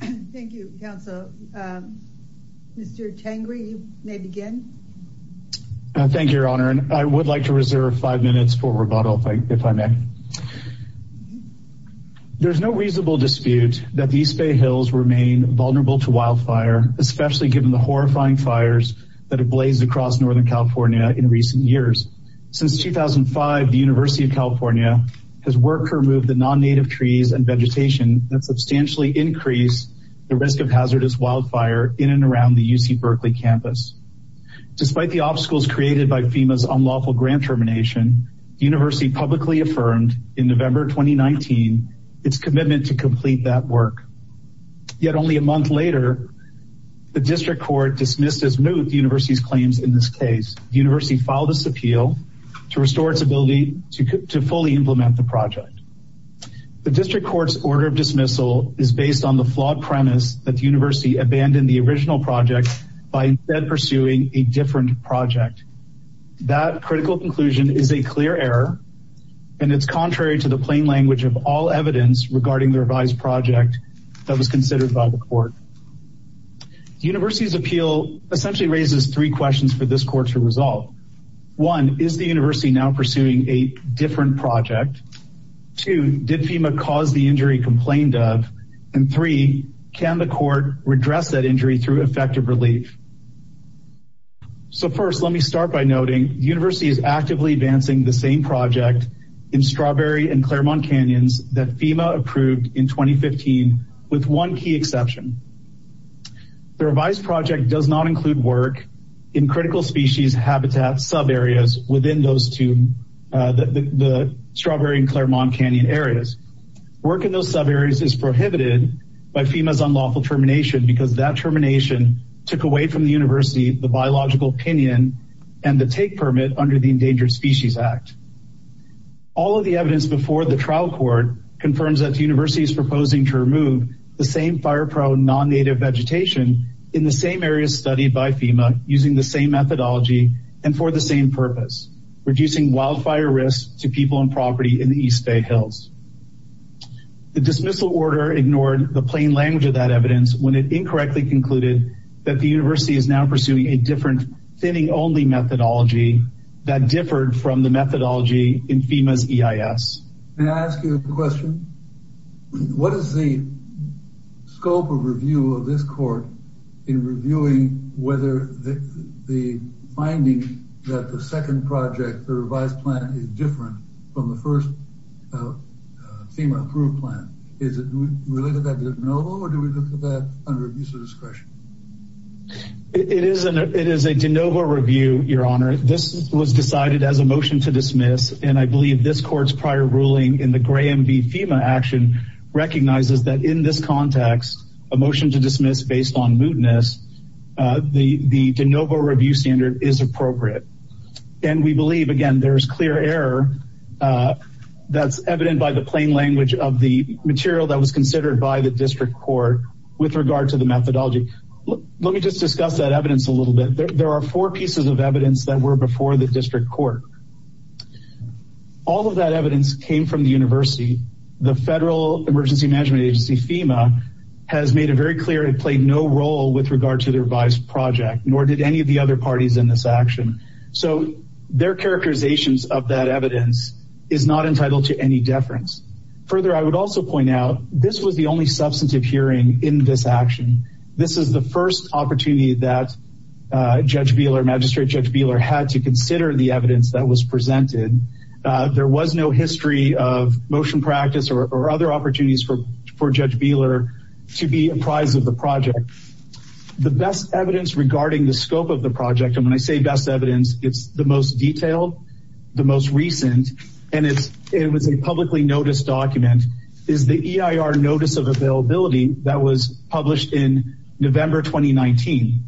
Thank you, Councilor. Mr. Tengri, you may begin. Thank you, Your Honor, and I would like to reserve five minutes for rebuttal, if I may. There is no reasonable dispute that the East Bay Hills remain vulnerable to wildfire, especially given the horrifying fires that have blazed across Northern California in recent years. Since 2005, the University of California has worked to remove the non-native trees and vegetation that substantially increase the risk of hazardous wildfire in and around the UC Berkeley campus. Despite the obstacles created by FEMA's unlawful grant termination, the University publicly affirmed in November 2019 its commitment to complete that work. Yet only a month later, the District Court dismissed as moot the University's claims in this case. The University filed this appeal to restore its ability to fully implement the project. The District Court's order of dismissal is based on the flawed premise that the University abandoned the original project by instead pursuing a different project. That critical conclusion is a clear error, and it's contrary to the plain language of all evidence regarding the revised project that was considered by the Court. The University's appeal essentially raises three questions for this Court to resolve. One, is the University now pursuing a different project? Two, did FEMA cause the injury complained of? And three, can the Court redress that injury through effective relief? So first, let me start by noting the University is actively advancing the same project in Strawberry and Claremont Canyons that FEMA approved in 2015, with one key exception. The revised project does not include work in critical species habitat sub-areas within those two, the Strawberry and Claremont Canyon areas. Work in those sub-areas is prohibited by FEMA's unlawful termination, because that termination took away from the University the biological opinion and the take permit under the Endangered Species Act. All of the evidence before the trial court confirms that the University is proposing to remove the same fire-prone non-native vegetation in the same areas studied by FEMA using the same methodology and for the same purpose, reducing wildfire risk to people and property in the East Bay Hills. The dismissal order ignored the plain language of that evidence when it incorrectly concluded that the University is now pursuing a different thinning-only methodology that differed from the methodology in FEMA's EIS. May I ask you a question? What is the scope of review of this court in reviewing whether the finding that the second project, the revised plan, is different from the first FEMA-approved plan? Is it related to that de novo, or do we look at that under use of discretion? It is a de novo review, Your Honor. This was decided as a motion to dismiss, and I believe this court's prior ruling in the Graham v. FEMA action recognizes that in this context, a motion to dismiss based on mootness, the de novo review standard is appropriate. And we believe, again, there is clear error that's evident by the plain language of the material that was considered by the district court with regard to the methodology. Let me just discuss that evidence a little bit. There are four pieces of evidence that were before the district court. All of that evidence came from the University. The Federal Emergency Management Agency, FEMA, has made it very clear it played no role with regard to the revised project, nor did any of the other parties in this action. So their characterizations of that evidence is not entitled to any deference. Further, I would also point out this was the only substantive hearing in this action. This is the first opportunity that Judge Beeler, Magistrate Judge Beeler, had to consider the evidence that was presented. There was no history of motion practice or other opportunities for Judge Beeler to be apprised of the project. The best evidence regarding the scope of the project, and when I say best evidence, it's the most detailed, the most recent, and it was a publicly noticed document, is the EIR Notice of Availability that was published in November 2019.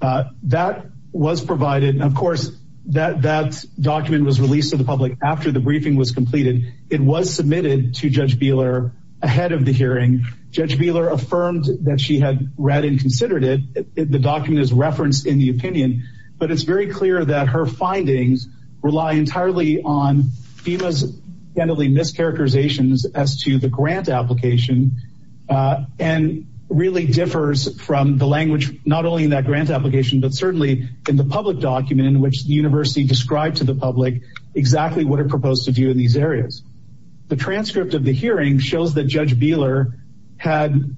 That was provided, and of course that document was released to the public after the briefing was completed. It was submitted to Judge Beeler ahead of the hearing. Judge Beeler affirmed that she had read and considered it. The document is referenced in the opinion, but it's very clear that her findings rely entirely on FEMA's mischaracterizations as to the grant application and really differs from the language not only in that grant application, but certainly in the public document in which the university described to the public exactly what it proposed to do in these areas. The transcript of the hearing shows that Judge Beeler had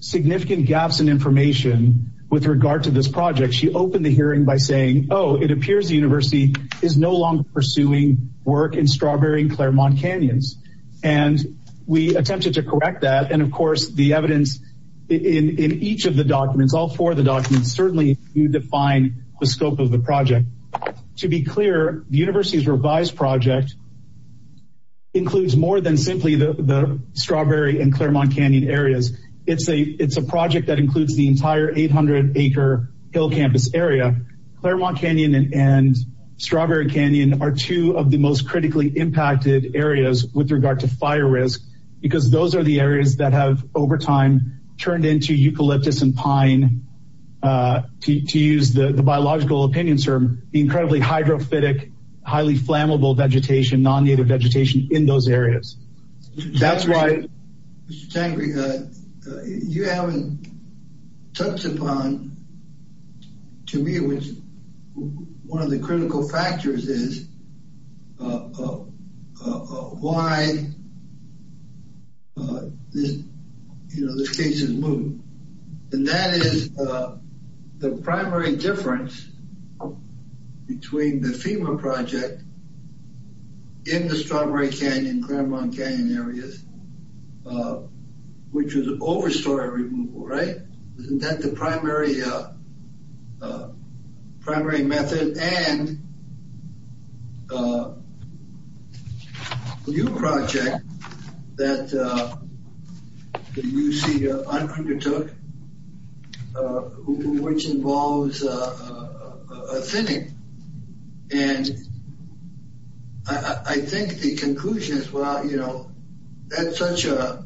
significant gaps in information with regard to this project. She opened the hearing by saying, oh, it appears the university is no longer pursuing work in Strawberry and Claremont Canyons, and we attempted to correct that, and of course the evidence in each of the documents, all four of the documents, certainly you define the scope of the project. To be clear, the university's revised project includes more than simply the Strawberry and Claremont Canyon areas. It's a project that includes the entire 800-acre Hill Campus area. Claremont Canyon and Strawberry Canyon are two of the most critically impacted areas with regard to fire risk because those are the areas that have, over time, turned into eucalyptus and pine, to use the biological opinion term, incredibly hydrophytic, highly flammable vegetation, non-native vegetation in those areas. That's why... Mr. Tangre, you haven't touched upon, to me, which one of the critical factors is why this case is moved, and that is the primary difference between the FEMA project in the Strawberry Canyon and Claremont Canyon areas, which was an overstory removal, right? Isn't that the primary method? And your project that you see on Kruger Took, which involves a thinning, and I think the conclusion is, well, you know, that's such a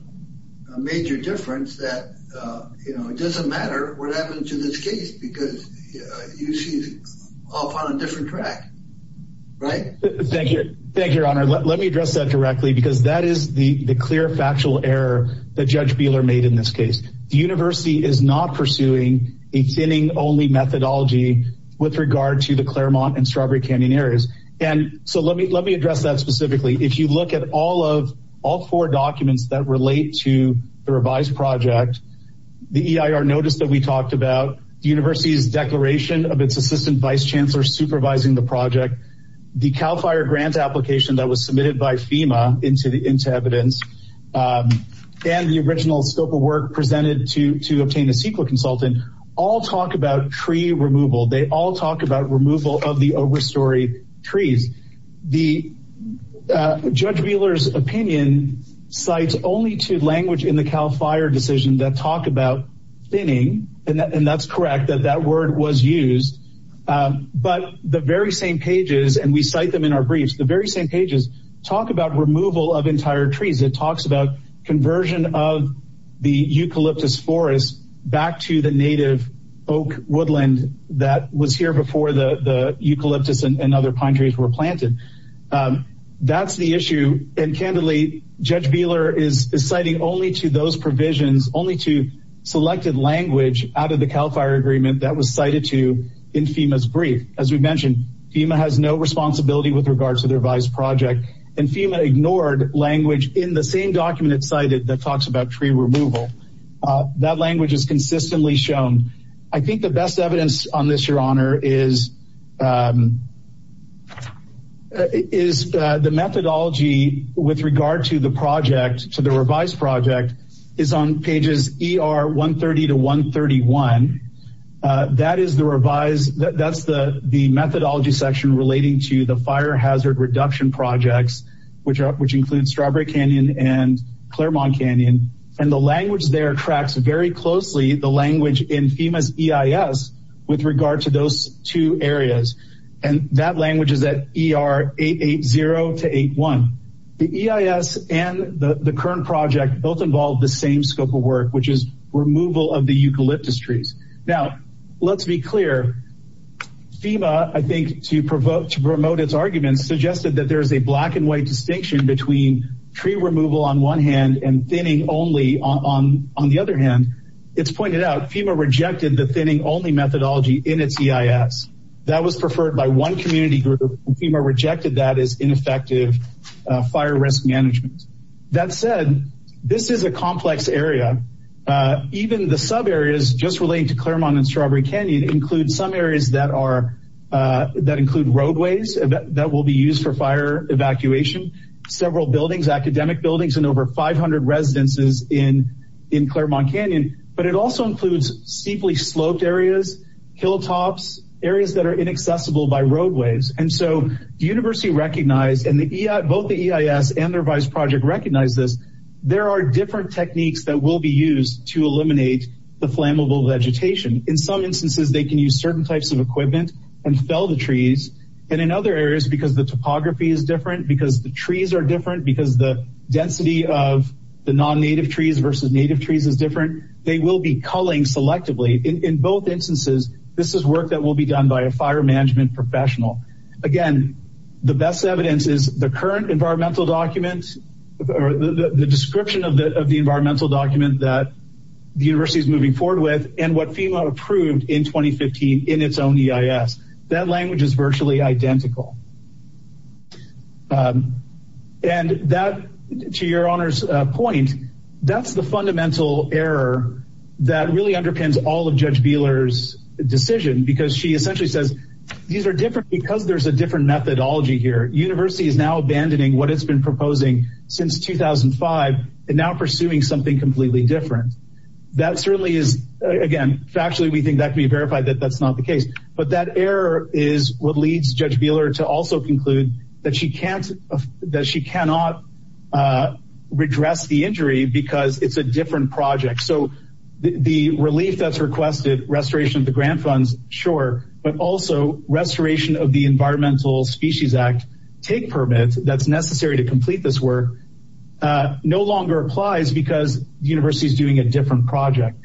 major difference that it doesn't matter what happens to this case because UC is off on a different track, right? Thank you, Your Honor. Let me address that directly because that is the clear, factual error that Judge Buehler made in this case. The university is not pursuing a thinning-only methodology with regard to the Claremont and Strawberry Canyon areas. And so let me address that specifically. If you look at all four documents that relate to the revised project, the EIR notice that we talked about, the university's declaration of its assistant vice chancellor supervising the project, the CAL FIRE grant application that was submitted by FEMA into evidence, and the original scope of work presented to obtain a CEQA consultant, all talk about tree removal. They all talk about removal of the overstory trees. Judge Buehler's opinion cites only two language in the CAL FIRE decision that talk about thinning, and that's correct, that that word was used. But the very same pages, and we cite them in our briefs, the very same pages talk about removal of entire trees. It talks about conversion of the eucalyptus forest back to the native oak woodland that was here before the eucalyptus and other pine trees were planted. That's the issue, and candidly, Judge Buehler is citing only to those provisions, only to selected language out of the CAL FIRE agreement that was cited to in FEMA's brief. As we mentioned, FEMA has no responsibility with regard to the revised project, and FEMA ignored language in the same document it cited that talks about tree removal. That language is consistently shown. I think the best evidence on this, Your Honor, is the methodology with regard to the project, to the revised project, is on pages ER 130 to 131. That is the methodology section relating to the fire hazard reduction projects, which include Strawberry Canyon and Claremont Canyon, and the language there tracks very closely the language in FEMA's EIS with regard to those two areas, and that language is at ER 880 to 81. The EIS and the current project both involve the same scope of work, which is removal of the eucalyptus trees. Now, let's be clear. FEMA, I think, to promote its arguments, suggested that there is a black-and-white distinction between tree removal on one hand and thinning only on the other hand. It's pointed out FEMA rejected the thinning-only methodology in its EIS. That was preferred by one community group, and FEMA rejected that as ineffective fire risk management. That said, this is a complex area. Even the sub-areas, just relating to Claremont and Strawberry Canyon, include some areas that include roadways that will be used for fire evacuation, several buildings, academic buildings, and over 500 residences in Claremont Canyon, but it also includes steeply sloped areas, hilltops, areas that are inaccessible by roadways. The university recognized, and both the EIS and their vice project recognized this, there are different techniques that will be used to eliminate the flammable vegetation. In some instances, they can use certain types of equipment and fell the trees, and in other areas, because the topography is different, because the trees are different, because the density of the non-native trees versus native trees is different, they will be culling selectively. In both instances, this is work that will be done by a fire management professional. Again, the best evidence is the current environmental document, the description of the environmental document that the university is moving forward with, and what FEMA approved in 2015 in its own EIS. That language is virtually identical. And that, to your honor's point, that's the fundamental error that really underpins all of Judge Beeler's decision, because she essentially says these are different because there's a different methodology here. University is now abandoning what it's been proposing since 2005 and now pursuing something completely different. That certainly is, again, factually we think that can be verified that that's not the case, but that error is what leads Judge Beeler to also conclude that she cannot redress the injury because it's a different project. So the relief that's requested, restoration of the grant funds, sure, but also restoration of the Environmental Species Act TIG permit that's necessary to complete this work no longer applies because the university is doing a different project.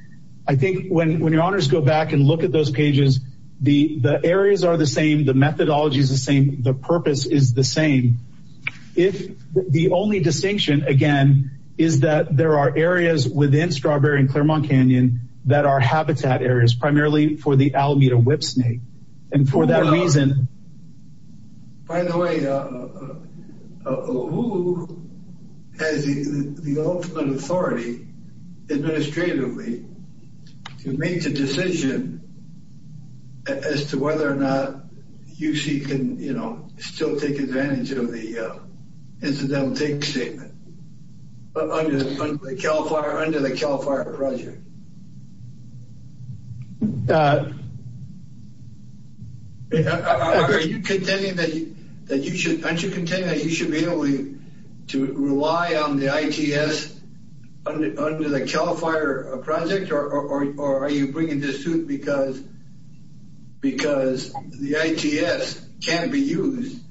I think when your honors go back and look at those pages, the areas are the same, the methodology is the same, the purpose is the same. If the only distinction, again, is that there are areas within Strawberry and Claremont Canyon that are habitat areas, primarily for the Alameda whipsnake. And for that reason... By the way, who has the ultimate authority, administratively, to make the decision as to whether or not UC can, you know, still take advantage of the incidental TIG statement under the CAL FIRE project? Are you contending that you should be able to rely on the ITS under the CAL FIRE project? Or are you bringing this to it because the ITS can't be used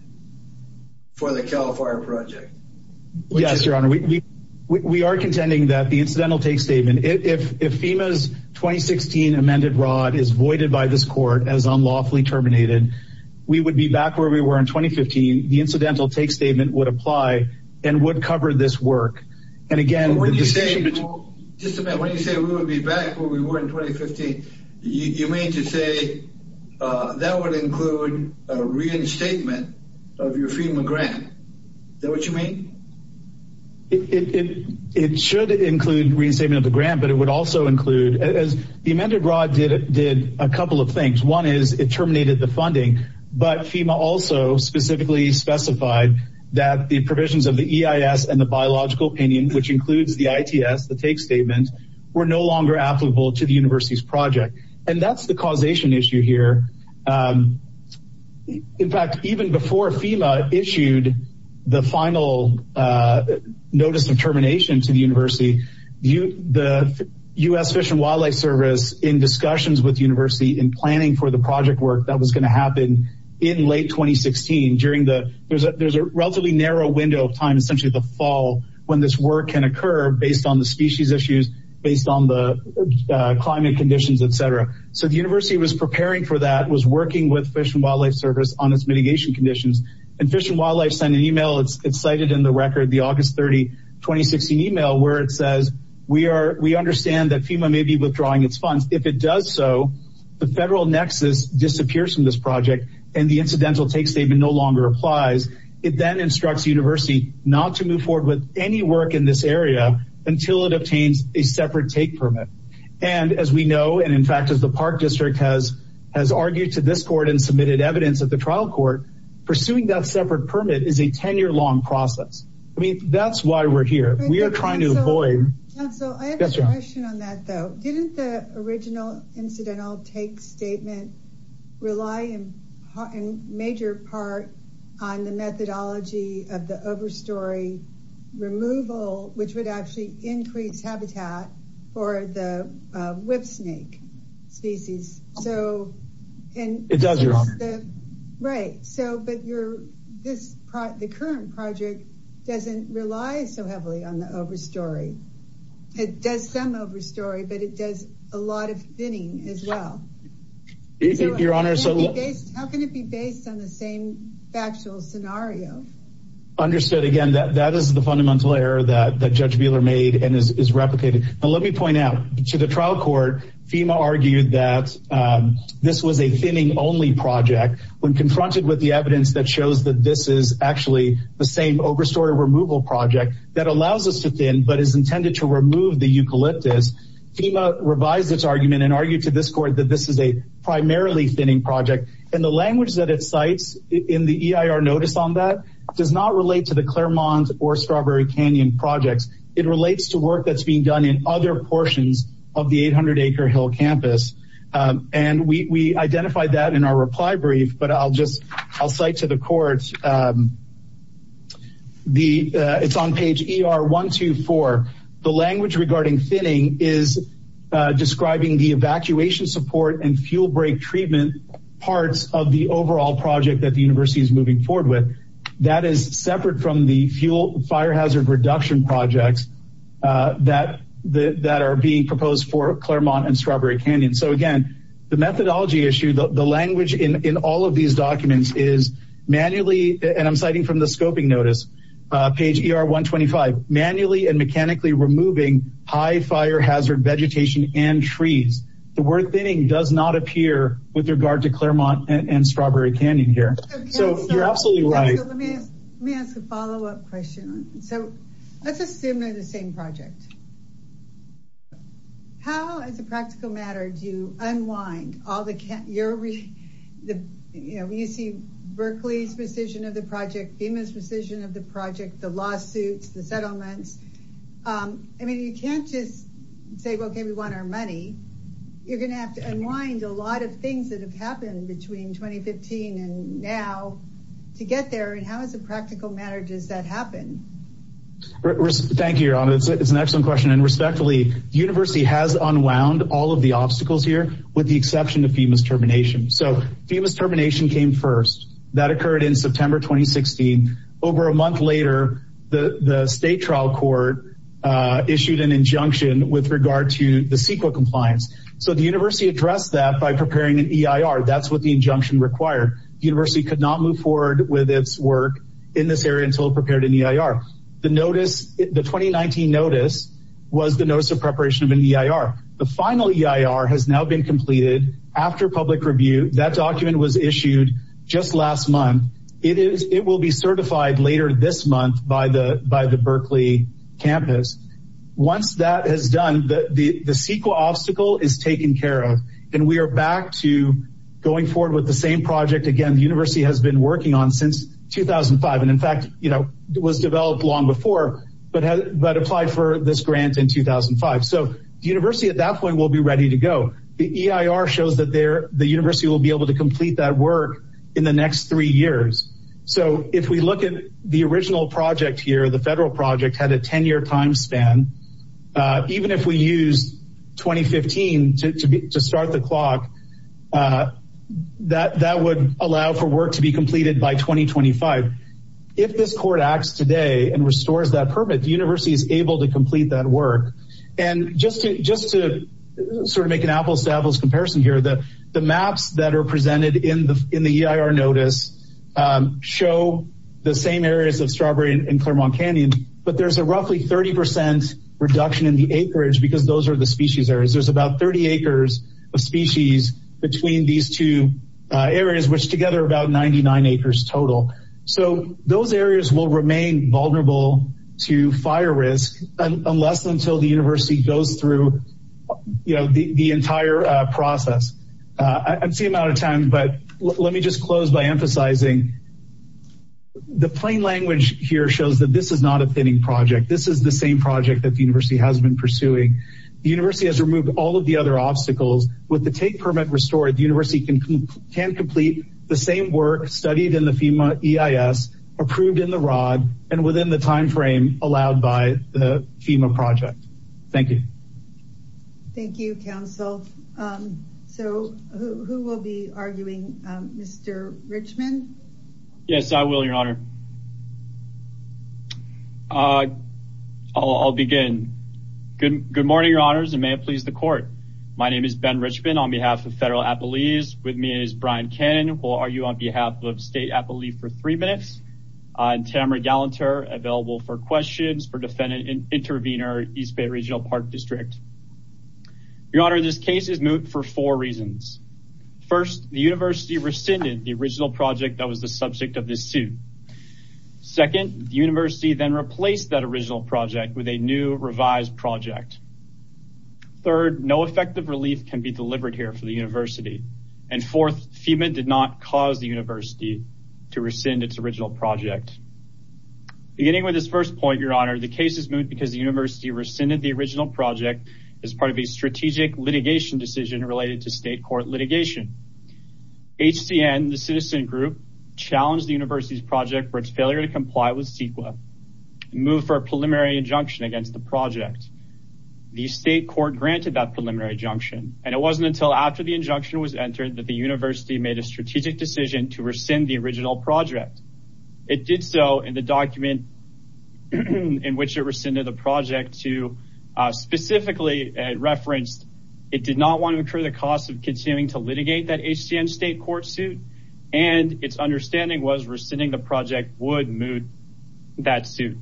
for the CAL FIRE project? Yes, your honor, we are contending that the incidental TIG statement, if FEMA's 2016 amended rod is voided by this court as unlawfully terminated, we would be back where we were in 2015. The incidental TIG statement would apply and would cover this work. And again, the decision between... When you say we would be back where we were in 2015, you mean to say that would include a reinstatement of your FEMA grant. Is that what you mean? It should include reinstatement of the grant, but it would also include... The amended rod did a couple of things. One is it terminated the funding, but FEMA also specifically specified that the provisions of the EIS and the biological opinion, which includes the ITS, the TIG statement, were no longer applicable to the university's project. And that's the causation issue here. In fact, even before FEMA issued the final notice of termination to the university, the U.S. Fish and Wildlife Service, in discussions with the university in planning for the project work that was going to happen in late 2016, there's a relatively narrow window of time, essentially the fall, when this work can occur based on the species issues, based on the climate conditions, et cetera. So the university was preparing for that, was working with Fish and Wildlife Service on its mitigation conditions. And Fish and Wildlife sent an email, it's cited in the record, the August 30, 2016 email, where it says, we understand that FEMA may be withdrawing its funds. If it does so, the federal nexus disappears from this project and the incidental take statement no longer applies. It then instructs the university not to move forward with any work in this area until it obtains a separate take permit. And as we know, and in fact, as the Park District has argued to this court and submitted evidence at the trial court, pursuing that separate permit is a 10-year-long process. I mean, that's why we're here. We are trying to avoid... Council, I have a question on that, though. Didn't the original incidental take statement rely in major part on the methodology of the overstory removal, which would actually increase habitat for the whip snake species? So... It does, Your Honor. Right. But the current project doesn't rely so heavily on the overstory. It does some overstory, but it does a lot of thinning as well. Your Honor, so... How can it be based on the same factual scenario? Understood. Again, that is the fundamental error that Judge Buehler made and is replicated. But let me point out, to the trial court, FEMA argued that this was a thinning-only project. When confronted with the evidence that shows that this is actually the same overstory removal project that allows us to thin but is intended to remove the eucalyptus, FEMA revised its argument and argued to this court that this is a primarily thinning project. And the language that it cites in the EIR notice on that does not relate to the Claremont or Strawberry Canyon projects. It relates to work that's being done in other portions of the 800-acre Hill Campus. And we identified that in our reply brief, but I'll cite to the court. It's on page ER124. The language regarding thinning is describing the evacuation support and fuel break treatment parts of the overall project that the University is moving forward with. That is separate from the fuel fire hazard reduction projects that are being proposed for Claremont and Strawberry Canyon. So, again, the methodology issue, the language in all of these documents is manually, and I'm citing from the scoping notice, page ER125, manually and mechanically removing high fire hazard vegetation and trees. The word thinning does not appear with regard to Claremont and Strawberry Canyon here. So you're absolutely right. Let me ask a follow-up question. So let's assume they're the same project. How, as a practical matter, do you unwind all the UC Berkeley's rescission of the project, FEMA's rescission of the project, the lawsuits, the settlements? I mean, you can't just say, okay, we want our money. You're going to have to unwind a lot of things that have happened between 2015 and now to get there. And how, as a practical matter, does that happen? Thank you, Yaron. It's an excellent question. And respectfully, the university has unwound all of the obstacles here, with the exception of FEMA's termination. So FEMA's termination came first. That occurred in September 2016. Over a month later, the state trial court issued an injunction with regard to the CEQA compliance. So the university addressed that by preparing an EIR. That's what the injunction required. The university could not move forward with its work in this area until it prepared an EIR. The 2019 notice was the notice of preparation of an EIR. The final EIR has now been completed. After public review, that document was issued just last month. It will be certified later this month by the Berkeley campus. Once that is done, the CEQA obstacle is taken care of. And we are back to going forward with the same project, again, the university has been working on since 2005. And, in fact, it was developed long before but applied for this grant in 2005. So the university at that point will be ready to go. The EIR shows that the university will be able to complete that work in the next three years. So if we look at the original project here, the federal project, had a 10-year time span. Even if we used 2015 to start the clock, that would allow for work to be completed by 2025. If this court acts today and restores that permit, the university is able to complete that work. And just to sort of make an apples-to-apples comparison here, the maps that are presented in the EIR notice show the same areas of Strawberry and Claremont Canyon, but there's a roughly 30% reduction in the acreage because those are the species areas. There's about 30 acres of species between these two areas, which together are about 99 acres total. So those areas will remain vulnerable to fire risk unless and until the university goes through the entire process. I'm seeing a lot of time, but let me just close by emphasizing the plain language here shows that this is not a pinning project. This is the same project that the university has been pursuing. The university has removed all of the other obstacles. With the take permit restored, the university can complete the same work studied in the FEMA EIS, approved in the ROD, and within the timeframe allowed by the FEMA project. Thank you. Thank you, Counsel. So who will be arguing? Mr. Richman? Yes, I will, Your Honor. I'll begin. Good morning, Your Honors, and may it please the Court. My name is Ben Richman on behalf of Federal Appellees. With me is Brian Cannon, who will argue on behalf of State Appellee for three minutes. And Tamara Gallanter, available for questions for Defendant Intervenor, East Bay Regional Park District. Your Honor, this case is moot for four reasons. First, the university rescinded the original project that was the subject of this suit. Second, the university then replaced that original project with a new revised project. Third, no effective relief can be delivered here for the university. And fourth, FEMA did not cause the university to rescind its original project. Beginning with this first point, Your Honor, the case is moot because the university rescinded the original project as part of a strategic litigation decision related to state court litigation. HCN, the citizen group, challenged the university's project for its failure to comply with CEQA and moved for a preliminary injunction against the project. The state court granted that preliminary injunction, and it wasn't until after the injunction was entered that the university made a strategic decision to rescind the original project. It did so in the document in which it rescinded the project to specifically reference it did not want to incur the cost of continuing to litigate that HCN state court suit, and its understanding was rescinding the project would moot that suit.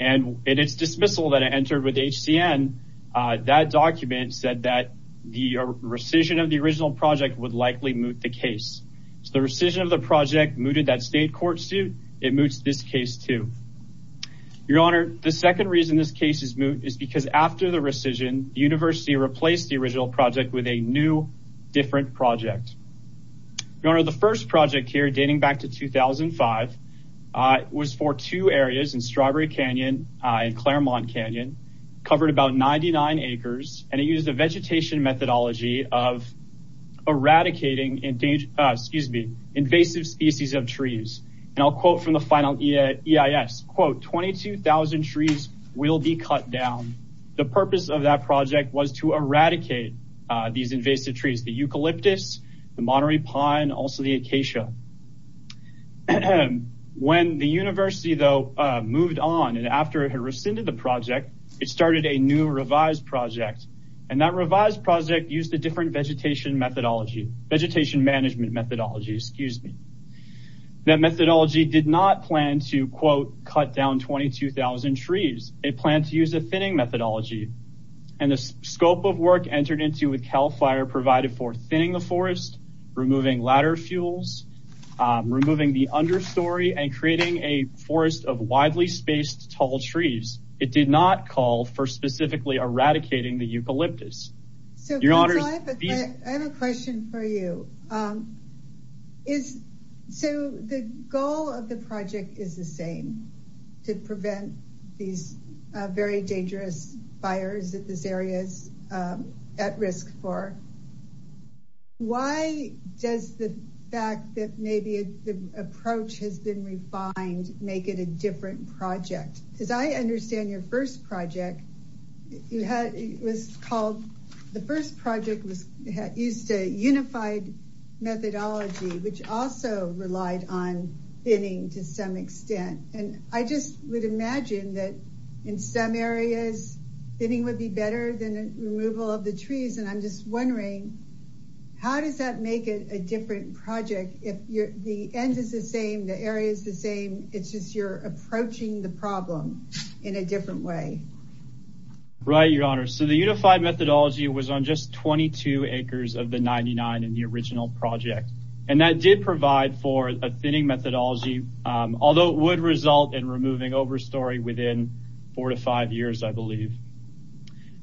And in its dismissal that it entered with HCN, that document said that the rescission of the original project would likely moot the case. So the rescission of the project mooted that state court suit. It moots this case too. Your Honor, the second reason this case is moot is because after the rescission, the university replaced the original project with a new, different project. Your Honor, the first project here dating back to 2005 was for two areas in Strawberry Canyon and Claremont Canyon, covered about 99 acres, and it used a vegetation methodology of eradicating invasive species of trees. And I'll quote from the final EIS, quote, 22,000 trees will be cut down. The purpose of that project was to eradicate these invasive trees. The eucalyptus, the Monterey pine, also the acacia. When the university, though, moved on and after it had rescinded the project, it started a new revised project, and that revised project used a different vegetation methodology, vegetation management methodology, excuse me. That methodology did not plan to, quote, cut down 22,000 trees. It planned to use a thinning methodology. And the scope of work entered into with CAL FIRE provided for thinning the forest, removing ladder fuels, removing the understory, and creating a forest of widely spaced tall trees. It did not call for specifically eradicating the eucalyptus. Your Honor. I have a question for you. So the goal of the project is the same, to prevent these very dangerous fires that this area is at risk for. Why does the fact that maybe the approach has been refined make it a different project? As I understand your first project, it was called, the first project used a unified methodology, which also relied on thinning to some extent. And I just would imagine that in some areas thinning would be better than removal of the trees. And I'm just wondering, how does that make it a different project if the end is the same, the area is the same, it's just you're approaching the problem in a different way? Right, Your Honor. So the unified methodology was on just 22 acres of the 99 in the original project. And that did provide for a thinning methodology, although it would result in removing overstory within four to five years, I believe.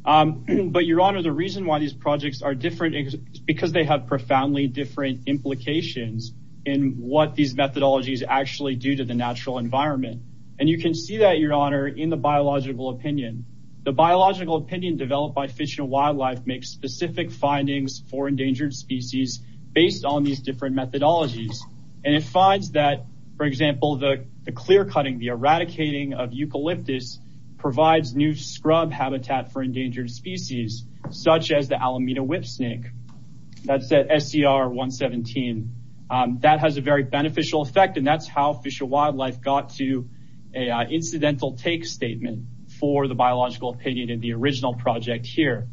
But, Your Honor, the reason why these projects are different is because they have profoundly different implications in what these methodologies actually do to the natural environment. And you can see that, Your Honor, in the biological opinion. The biological opinion developed by Fish and Wildlife makes specific findings for endangered species based on these different methodologies. And it finds that, for example, the clear-cutting, the eradicating of eucalyptus provides new scrub habitat for endangered species, such as the Alameda Whipsnake. That's at SCR 117. That has a very beneficial effect, and that's how Fish and Wildlife got to an incidental take statement for the biological opinion in the original project here.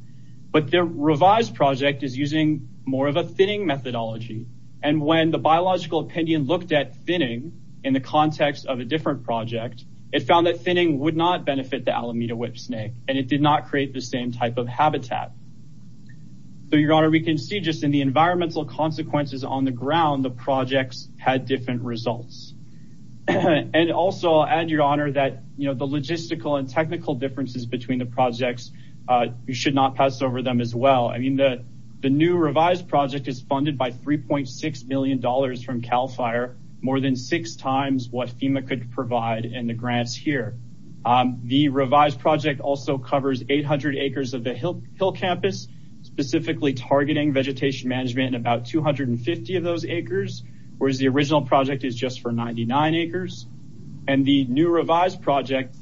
But the revised project is using more of a thinning methodology. And when the biological opinion looked at thinning in the context of a different project, it found that thinning would not benefit the Alameda Whipsnake, and it did not create the same type of habitat. So, Your Honor, we can see just in the environmental consequences on the ground, the projects had different results. And also, I'll add, Your Honor, that the logistical and technical differences between the projects, you should not pass over them as well. I mean, the new revised project is funded by $3.6 million from CAL FIRE, more than six times what FEMA could provide in the grants here. The revised project also covers 800 acres of the Hill Campus, specifically targeting vegetation management and about 250 of those acres, whereas the original project is just for 99 acres. And the new revised project,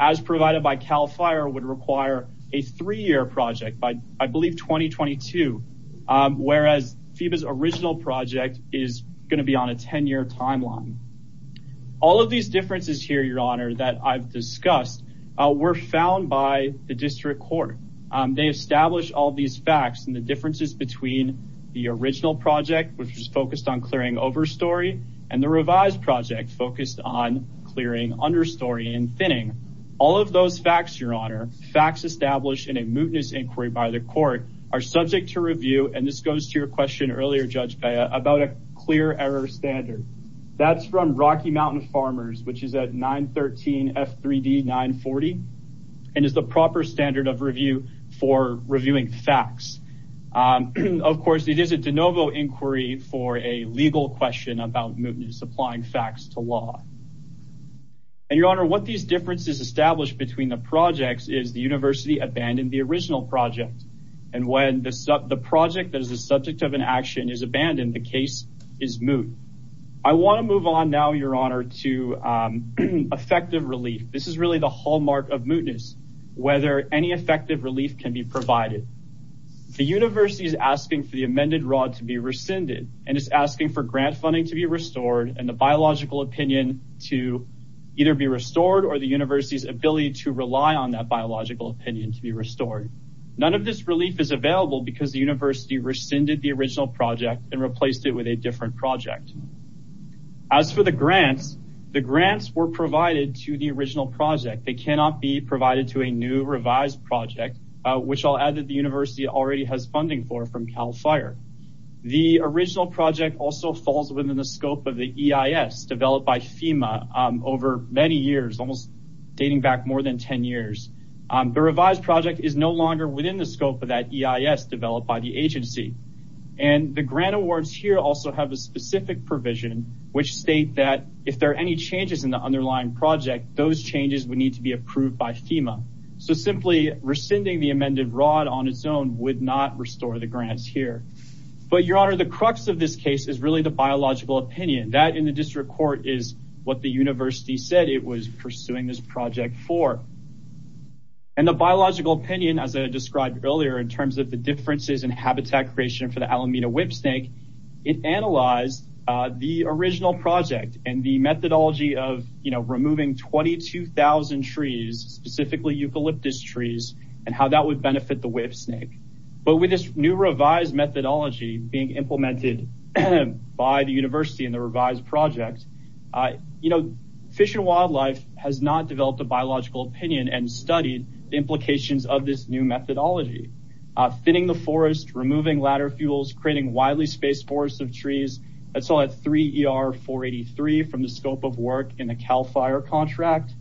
as provided by CAL FIRE, would require a three-year project by, I believe, 2022, whereas FEMA's original project is going to be on a 10-year timeline. All of these differences here, Your Honor, that I've discussed were found by the district court. They established all these facts and the differences between the original project, which was focused on clearing overstory, and the revised project focused on clearing understory and thinning. All of those facts, Your Honor, facts established in a mootness inquiry by the court, are subject to review, and this goes to your question earlier, Judge Bea, about a clear error standard. That's from Rocky Mountain Farmers, which is at 913 F3D 940, and is the proper standard of review for reviewing facts. Of course, it is a de novo inquiry for a legal question about mootness, applying facts to law. And, Your Honor, what these differences establish between the projects is the university abandoned the original project, and when the project that is the subject of an action is abandoned, the case is moot. I want to move on now, Your Honor, to effective relief. This is really the hallmark of mootness, whether any effective relief can be provided. The university is asking for the amended rod to be rescinded, and is asking for grant funding to be restored, and the biological opinion to either be restored, or the university's ability to rely on that biological opinion to be restored. None of this relief is available because the university rescinded the original project and replaced it with a different project. As for the grants, the grants were provided to the original project. They cannot be provided to a new revised project, which I'll add that the university already has funding for from Cal Fire. The original project also falls within the scope of the EIS, developed by FEMA over many years, almost dating back more than 10 years. The revised project is no longer within the scope of that EIS developed by the agency. And the grant awards here also have a specific provision, which state that if there are any changes in the underlying project, those changes would need to be approved by FEMA. So simply rescinding the amended rod on its own would not restore the grants here. But, Your Honor, the crux of this case is really the biological opinion. That, in the district court, is what the university said it was pursuing this project for. And the biological opinion, as I described earlier, in terms of the differences in habitat creation for the Alameda whipsnake, it analyzed the original project and the methodology of, you know, removing 22,000 trees, specifically eucalyptus trees, and how that would benefit the whipsnake. But with this new revised methodology being implemented by the university in the revised project, you know, Fish and Wildlife has not developed a biological opinion and studied the implications of this new methodology. Thinning the forest, removing ladder fuels, creating widely spaced forests of trees, that's all at 3 ER 483 from the scope of work in the CAL FIRE contract.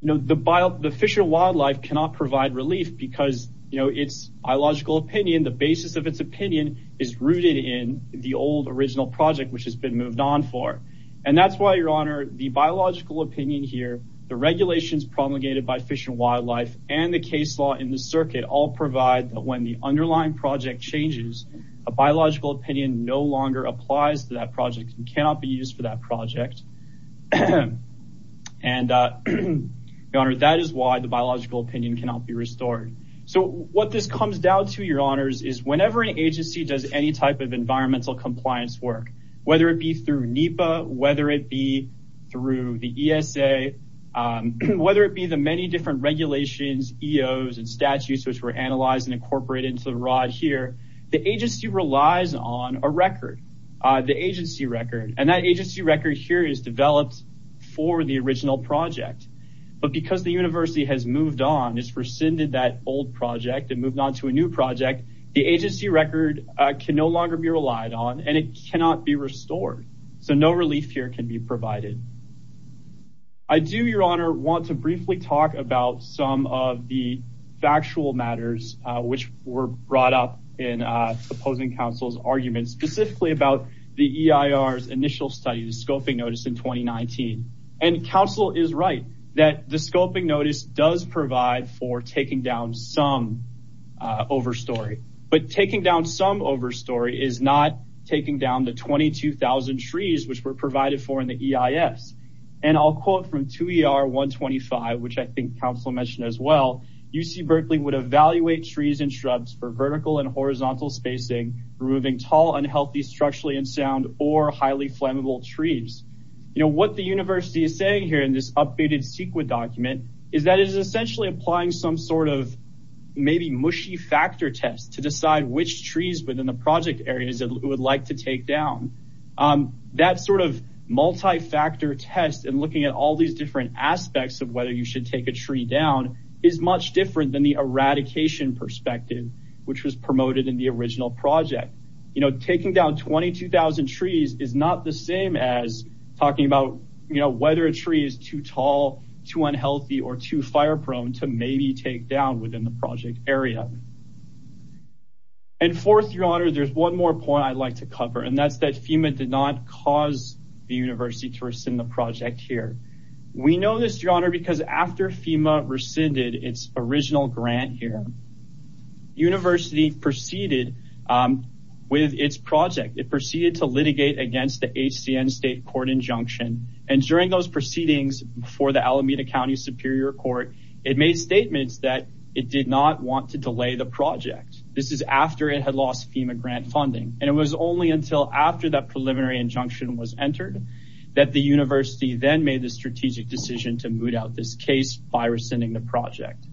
You know, the Fish and Wildlife cannot provide relief because, you know, its biological opinion, the basis of its opinion, is rooted in the old original project which has been moved on for. And that's why, Your Honor, the biological opinion here, the regulations promulgated by Fish and Wildlife, and the case law in the circuit all provide that when the underlying project changes, a biological opinion no longer applies to that project and cannot be used for that project. And, Your Honor, that is why the biological opinion cannot be restored. So what this comes down to, Your Honors, is whenever an agency does any type of environmental compliance work, whether it be through NEPA, whether it be through the ESA, whether it be the many different regulations, EOs, and statutes which were analyzed and incorporated into the rod here, the agency relies on a record, the agency record, and that agency record here is developed for the original project. But because the university has moved on, has rescinded that old project and moved on to a new project, the agency record can no longer be relied on and it cannot be restored. So no relief here can be provided. I do, Your Honor, want to briefly talk about some of the factual matters which were brought up in opposing counsel's arguments, specifically about the EIR's initial study, the scoping notice in 2019. And counsel is right that the scoping notice does provide for taking down some overstory. But taking down some overstory is not taking down the 22,000 trees which were provided for in the EIS. And I'll quote from 2ER125, which I think counsel mentioned as well, UC Berkeley would evaluate trees and shrubs for vertical and horizontal spacing, removing tall, unhealthy, structurally unsound, or highly flammable trees. What the university is saying here in this updated CEQA document is that it is essentially applying some sort of maybe mushy factor test to decide which trees within the project areas it would like to take down. That sort of multi-factor test and looking at all these different aspects of whether you should take a tree down is much different than the eradication perspective which was promoted in the original project. Taking down 22,000 trees is not the same as talking about whether a tree is too tall, too unhealthy, or too fire-prone to maybe take down within the project area. And fourth, your honor, there's one more point I'd like to cover, and that's that FEMA did not cause the university to rescind the project here. We know this, your honor, because after FEMA rescinded its original grant here, the university proceeded with its project. It proceeded to litigate against the HCN state court injunction, and during those proceedings before the Alameda County Superior Court, it made statements that it did not want to delay the project. This is after it had lost FEMA grant funding, and it was only until after that preliminary injunction was entered that the university then made the strategic decision to moot out this case by rescinding the project.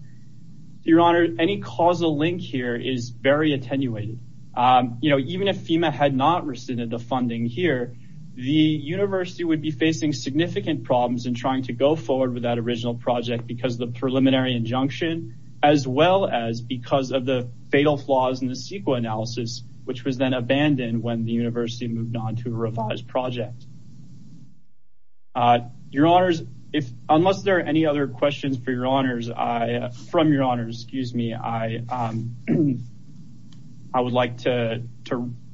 Your honor, any causal link here is very attenuated. You know, even if FEMA had not rescinded the funding here, the university would be facing significant problems in trying to go forward with that original project because of the preliminary injunction, as well as because of the fatal flaws in the CEQA analysis, which was then abandoned when the university moved on to a revised project. Your honors, unless there are any other questions for your honors, from your honors, excuse me, I would like to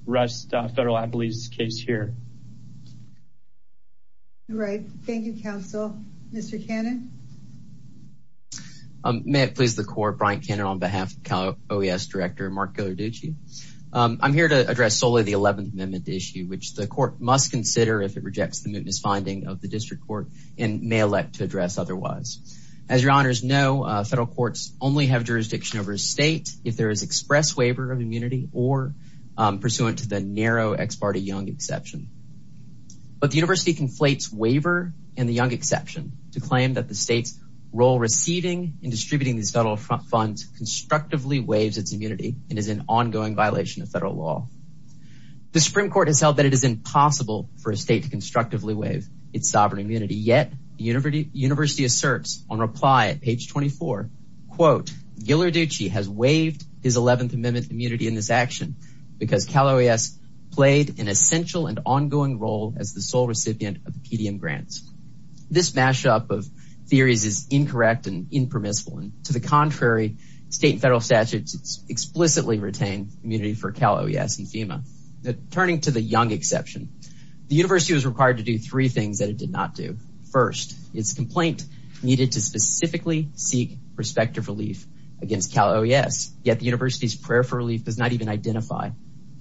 rest Federal Appellee's case here. All right. Thank you, counsel. Mr. Cannon? May it please the court, Brian Cannon on behalf of Cal OES Director Mark Ghilarducci. I'm here to address solely the 11th Amendment issue, which the court must consider if it rejects the mootness finding of the district court, and may elect to address otherwise. As your honors know, federal courts only have jurisdiction over a state if there is express waiver of immunity or pursuant to the narrow ex parte Young exception. But the university conflates waiver and the Young exception to claim that the state's role receiving and distributing these federal funds constructively waives its immunity and is an ongoing violation of federal law. The Supreme Court has held that it is impossible for a state to constructively waive its sovereign immunity, yet the university asserts on reply at page 24, quote, Ghilarducci has waived his 11th Amendment immunity in this action because Cal OES played an essential and ongoing role as the sole recipient of PDM grants. This mashup of theories is incorrect and impermissible, and to the contrary, state and federal statutes explicitly retain immunity for Cal OES and FEMA. Turning to the Young exception, the university was required to do three things that it did not do. First, its complaint needed to specifically seek prospective relief against Cal OES, yet the university's prayer for relief does not even identify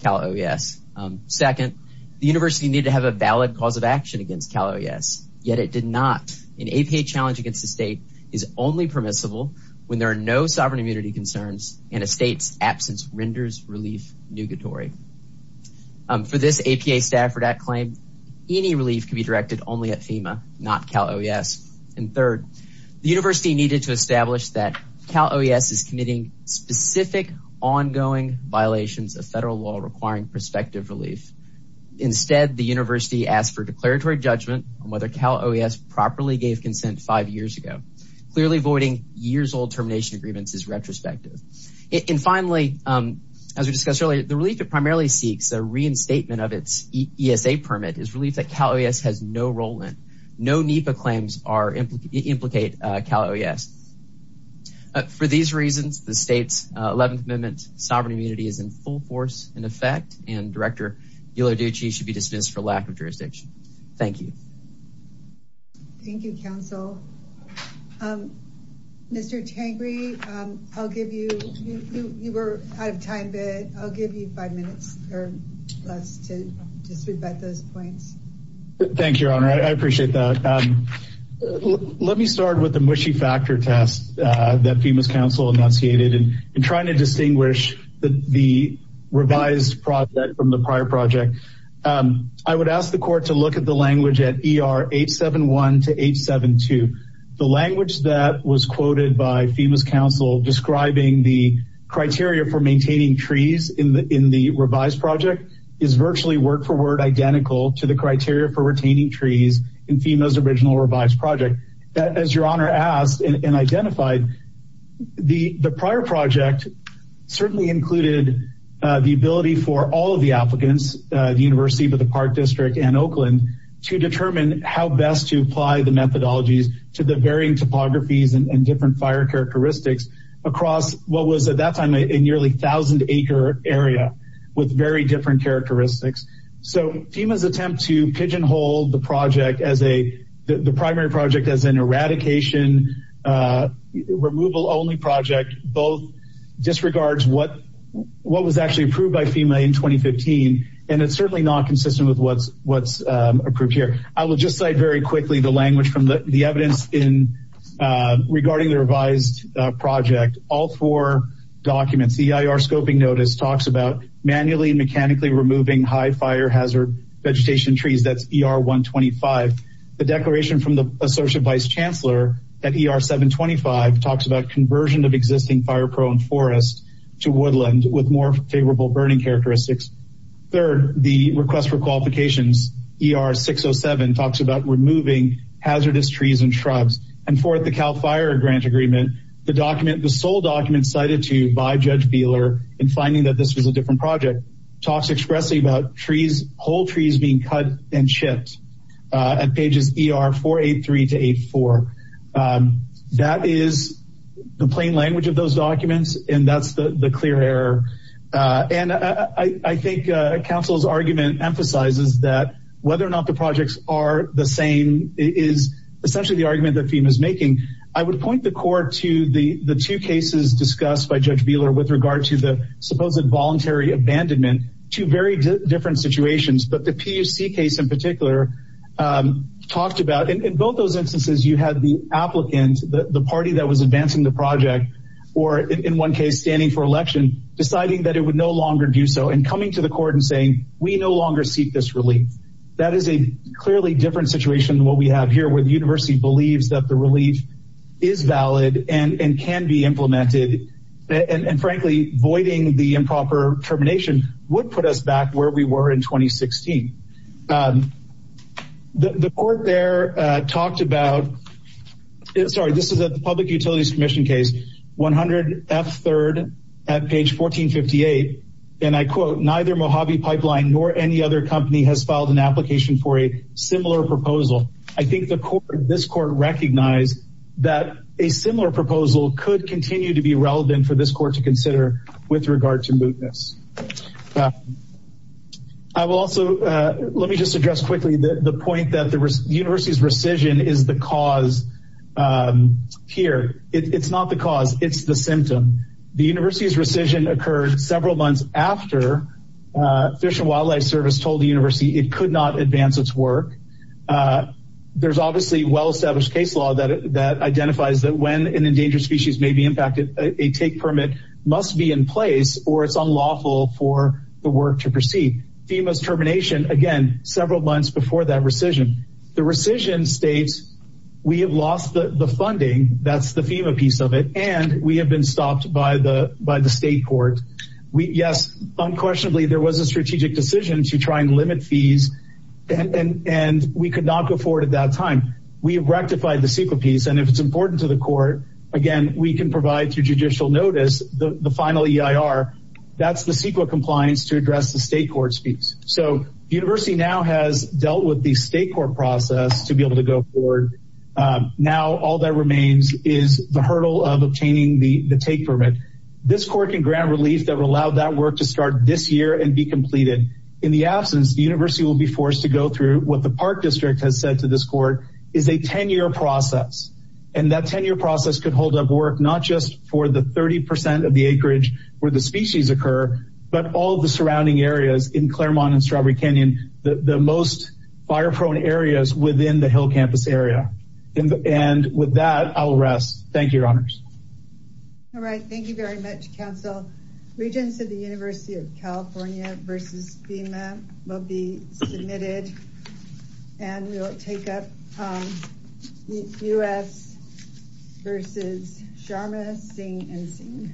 Cal OES. Second, the university needed to have a valid cause of action against Cal OES, yet it did not. An APA challenge against the state is only permissible when there are no sovereign immunity concerns and a state's absence renders relief nugatory. For this APA Stafford Act claim, any relief can be directed only at FEMA, not Cal OES. And third, the university needed to establish that Cal OES is committing specific ongoing violations of federal law requiring prospective relief. Instead, the university asked for declaratory judgment on whether Cal OES properly gave consent five years ago. Clearly voiding years-old termination agreements is retrospective. And finally, as we discussed earlier, the relief it primarily seeks, a reinstatement of its ESA permit, is relief that Cal OES has no role in. No NEPA claims implicate Cal OES. For these reasons, the state's 11th Amendment sovereign immunity is in full force in effect and Director Ghilarducci should be dismissed for lack of jurisdiction. Thank you. Thank you, counsel. Mr. Tangri, you were out of time, but I'll give you five minutes or less to just rebut those points. Thank you, Your Honor. I appreciate that. Let me start with the mushy factor test that FEMA's counsel enunciated. In trying to distinguish the revised project from the prior project, I would ask the court to look at the language at ER 871 to 872. The language that was quoted by FEMA's counsel describing the criteria for maintaining trees in the revised project is virtually word-for-word identical to the criteria for retaining trees in FEMA's original revised project. As Your Honor asked and identified, the prior project certainly included the ability for all of the applicants at the University of the Park District and Oakland to determine how best to apply the methodologies to the varying topographies and different fire characteristics across what was at that time a nearly 1,000-acre area with very different characteristics. So FEMA's attempt to pigeonhole the project as a – the primary project as an eradication, removal-only project, both disregards what was actually approved by FEMA in 2015, and it's certainly not consistent with what's approved here. I will just cite very quickly the language from the evidence regarding the revised project. All four documents, the EIR scoping notice talks about manually and mechanically removing high-fire hazard vegetation trees. That's ER 125. The declaration from the Associate Vice Chancellor at ER 725 talks about conversion of existing fire-prone forest to woodland with more favorable burning characteristics. Third, the request for qualifications, ER 607, talks about removing hazardous trees and shrubs. And fourth, the CAL FIRE grant agreement, the document – the sole document cited to you by Judge Feeler in finding that this was a different project talks expressly about trees – whole trees being cut and chipped at pages ER 483 to 84. That is the plain language of those documents, and that's the clear error. And I think counsel's argument emphasizes that whether or not the projects are the same is essentially the argument that FEMA is making. I would point the court to the two cases discussed by Judge Feeler with regard to the supposed voluntary abandonment, two very different situations, but the PUC case in particular talked about – in both those instances, you had the applicant, the party that was advancing the project, or in one case, standing for election, deciding that it would no longer do so and coming to the court and saying, we no longer seek this relief. That is a clearly different situation than what we have here, where the university believes that the relief is valid and can be implemented, and frankly, voiding the improper termination would put us back where we were in 2016. The court there talked about – sorry, this is a Public Utilities Commission case, 100 F. 3rd at page 1458, and I quote, neither Mojave Pipeline nor any other company has filed an application for a similar proposal. I think this court recognized that a similar proposal could continue to be relevant for this court to consider with regard to mootness. I will also – let me just address quickly the point that the university's rescission is the cause here. It's not the cause. It's the symptom. The university's rescission occurred several months after Fish and Wildlife Service told the university it could not advance its work. There's obviously well-established case law that identifies that when an endangered species may be impacted, a take permit must be in place or it's unlawful for the work to proceed. FEMA's termination, again, several months before that rescission. The rescission states we have lost the funding. That's the FEMA piece of it, and we have been stopped by the state court. Yes, unquestionably, there was a strategic decision to try and limit fees, and we could not go forward at that time. We have rectified the CEQA piece, and if it's important to the court, again, we can provide through judicial notice the final EIR. That's the CEQA compliance to address the state court's piece. So the university now has dealt with the state court process to be able to go forward. Now all that remains is the hurdle of obtaining the take permit. This court can grant relief that would allow that work to start this year and be completed. In the absence, the university will be forced to go through what the park district has said to this court is a 10-year process, and that 10-year process could hold up work not just for the 30 percent of the acreage where the species occur, but all of the surrounding areas in Claremont and Strawberry Canyon, the most fire-prone areas within the Hill Campus area. And with that, I will rest. Thank you, Your Honors. All right. Thank you very much, Counsel. Regents of the University of California v. FEMA will be submitted, and we will take up U.S. v. Sharma, Singh, and Singh.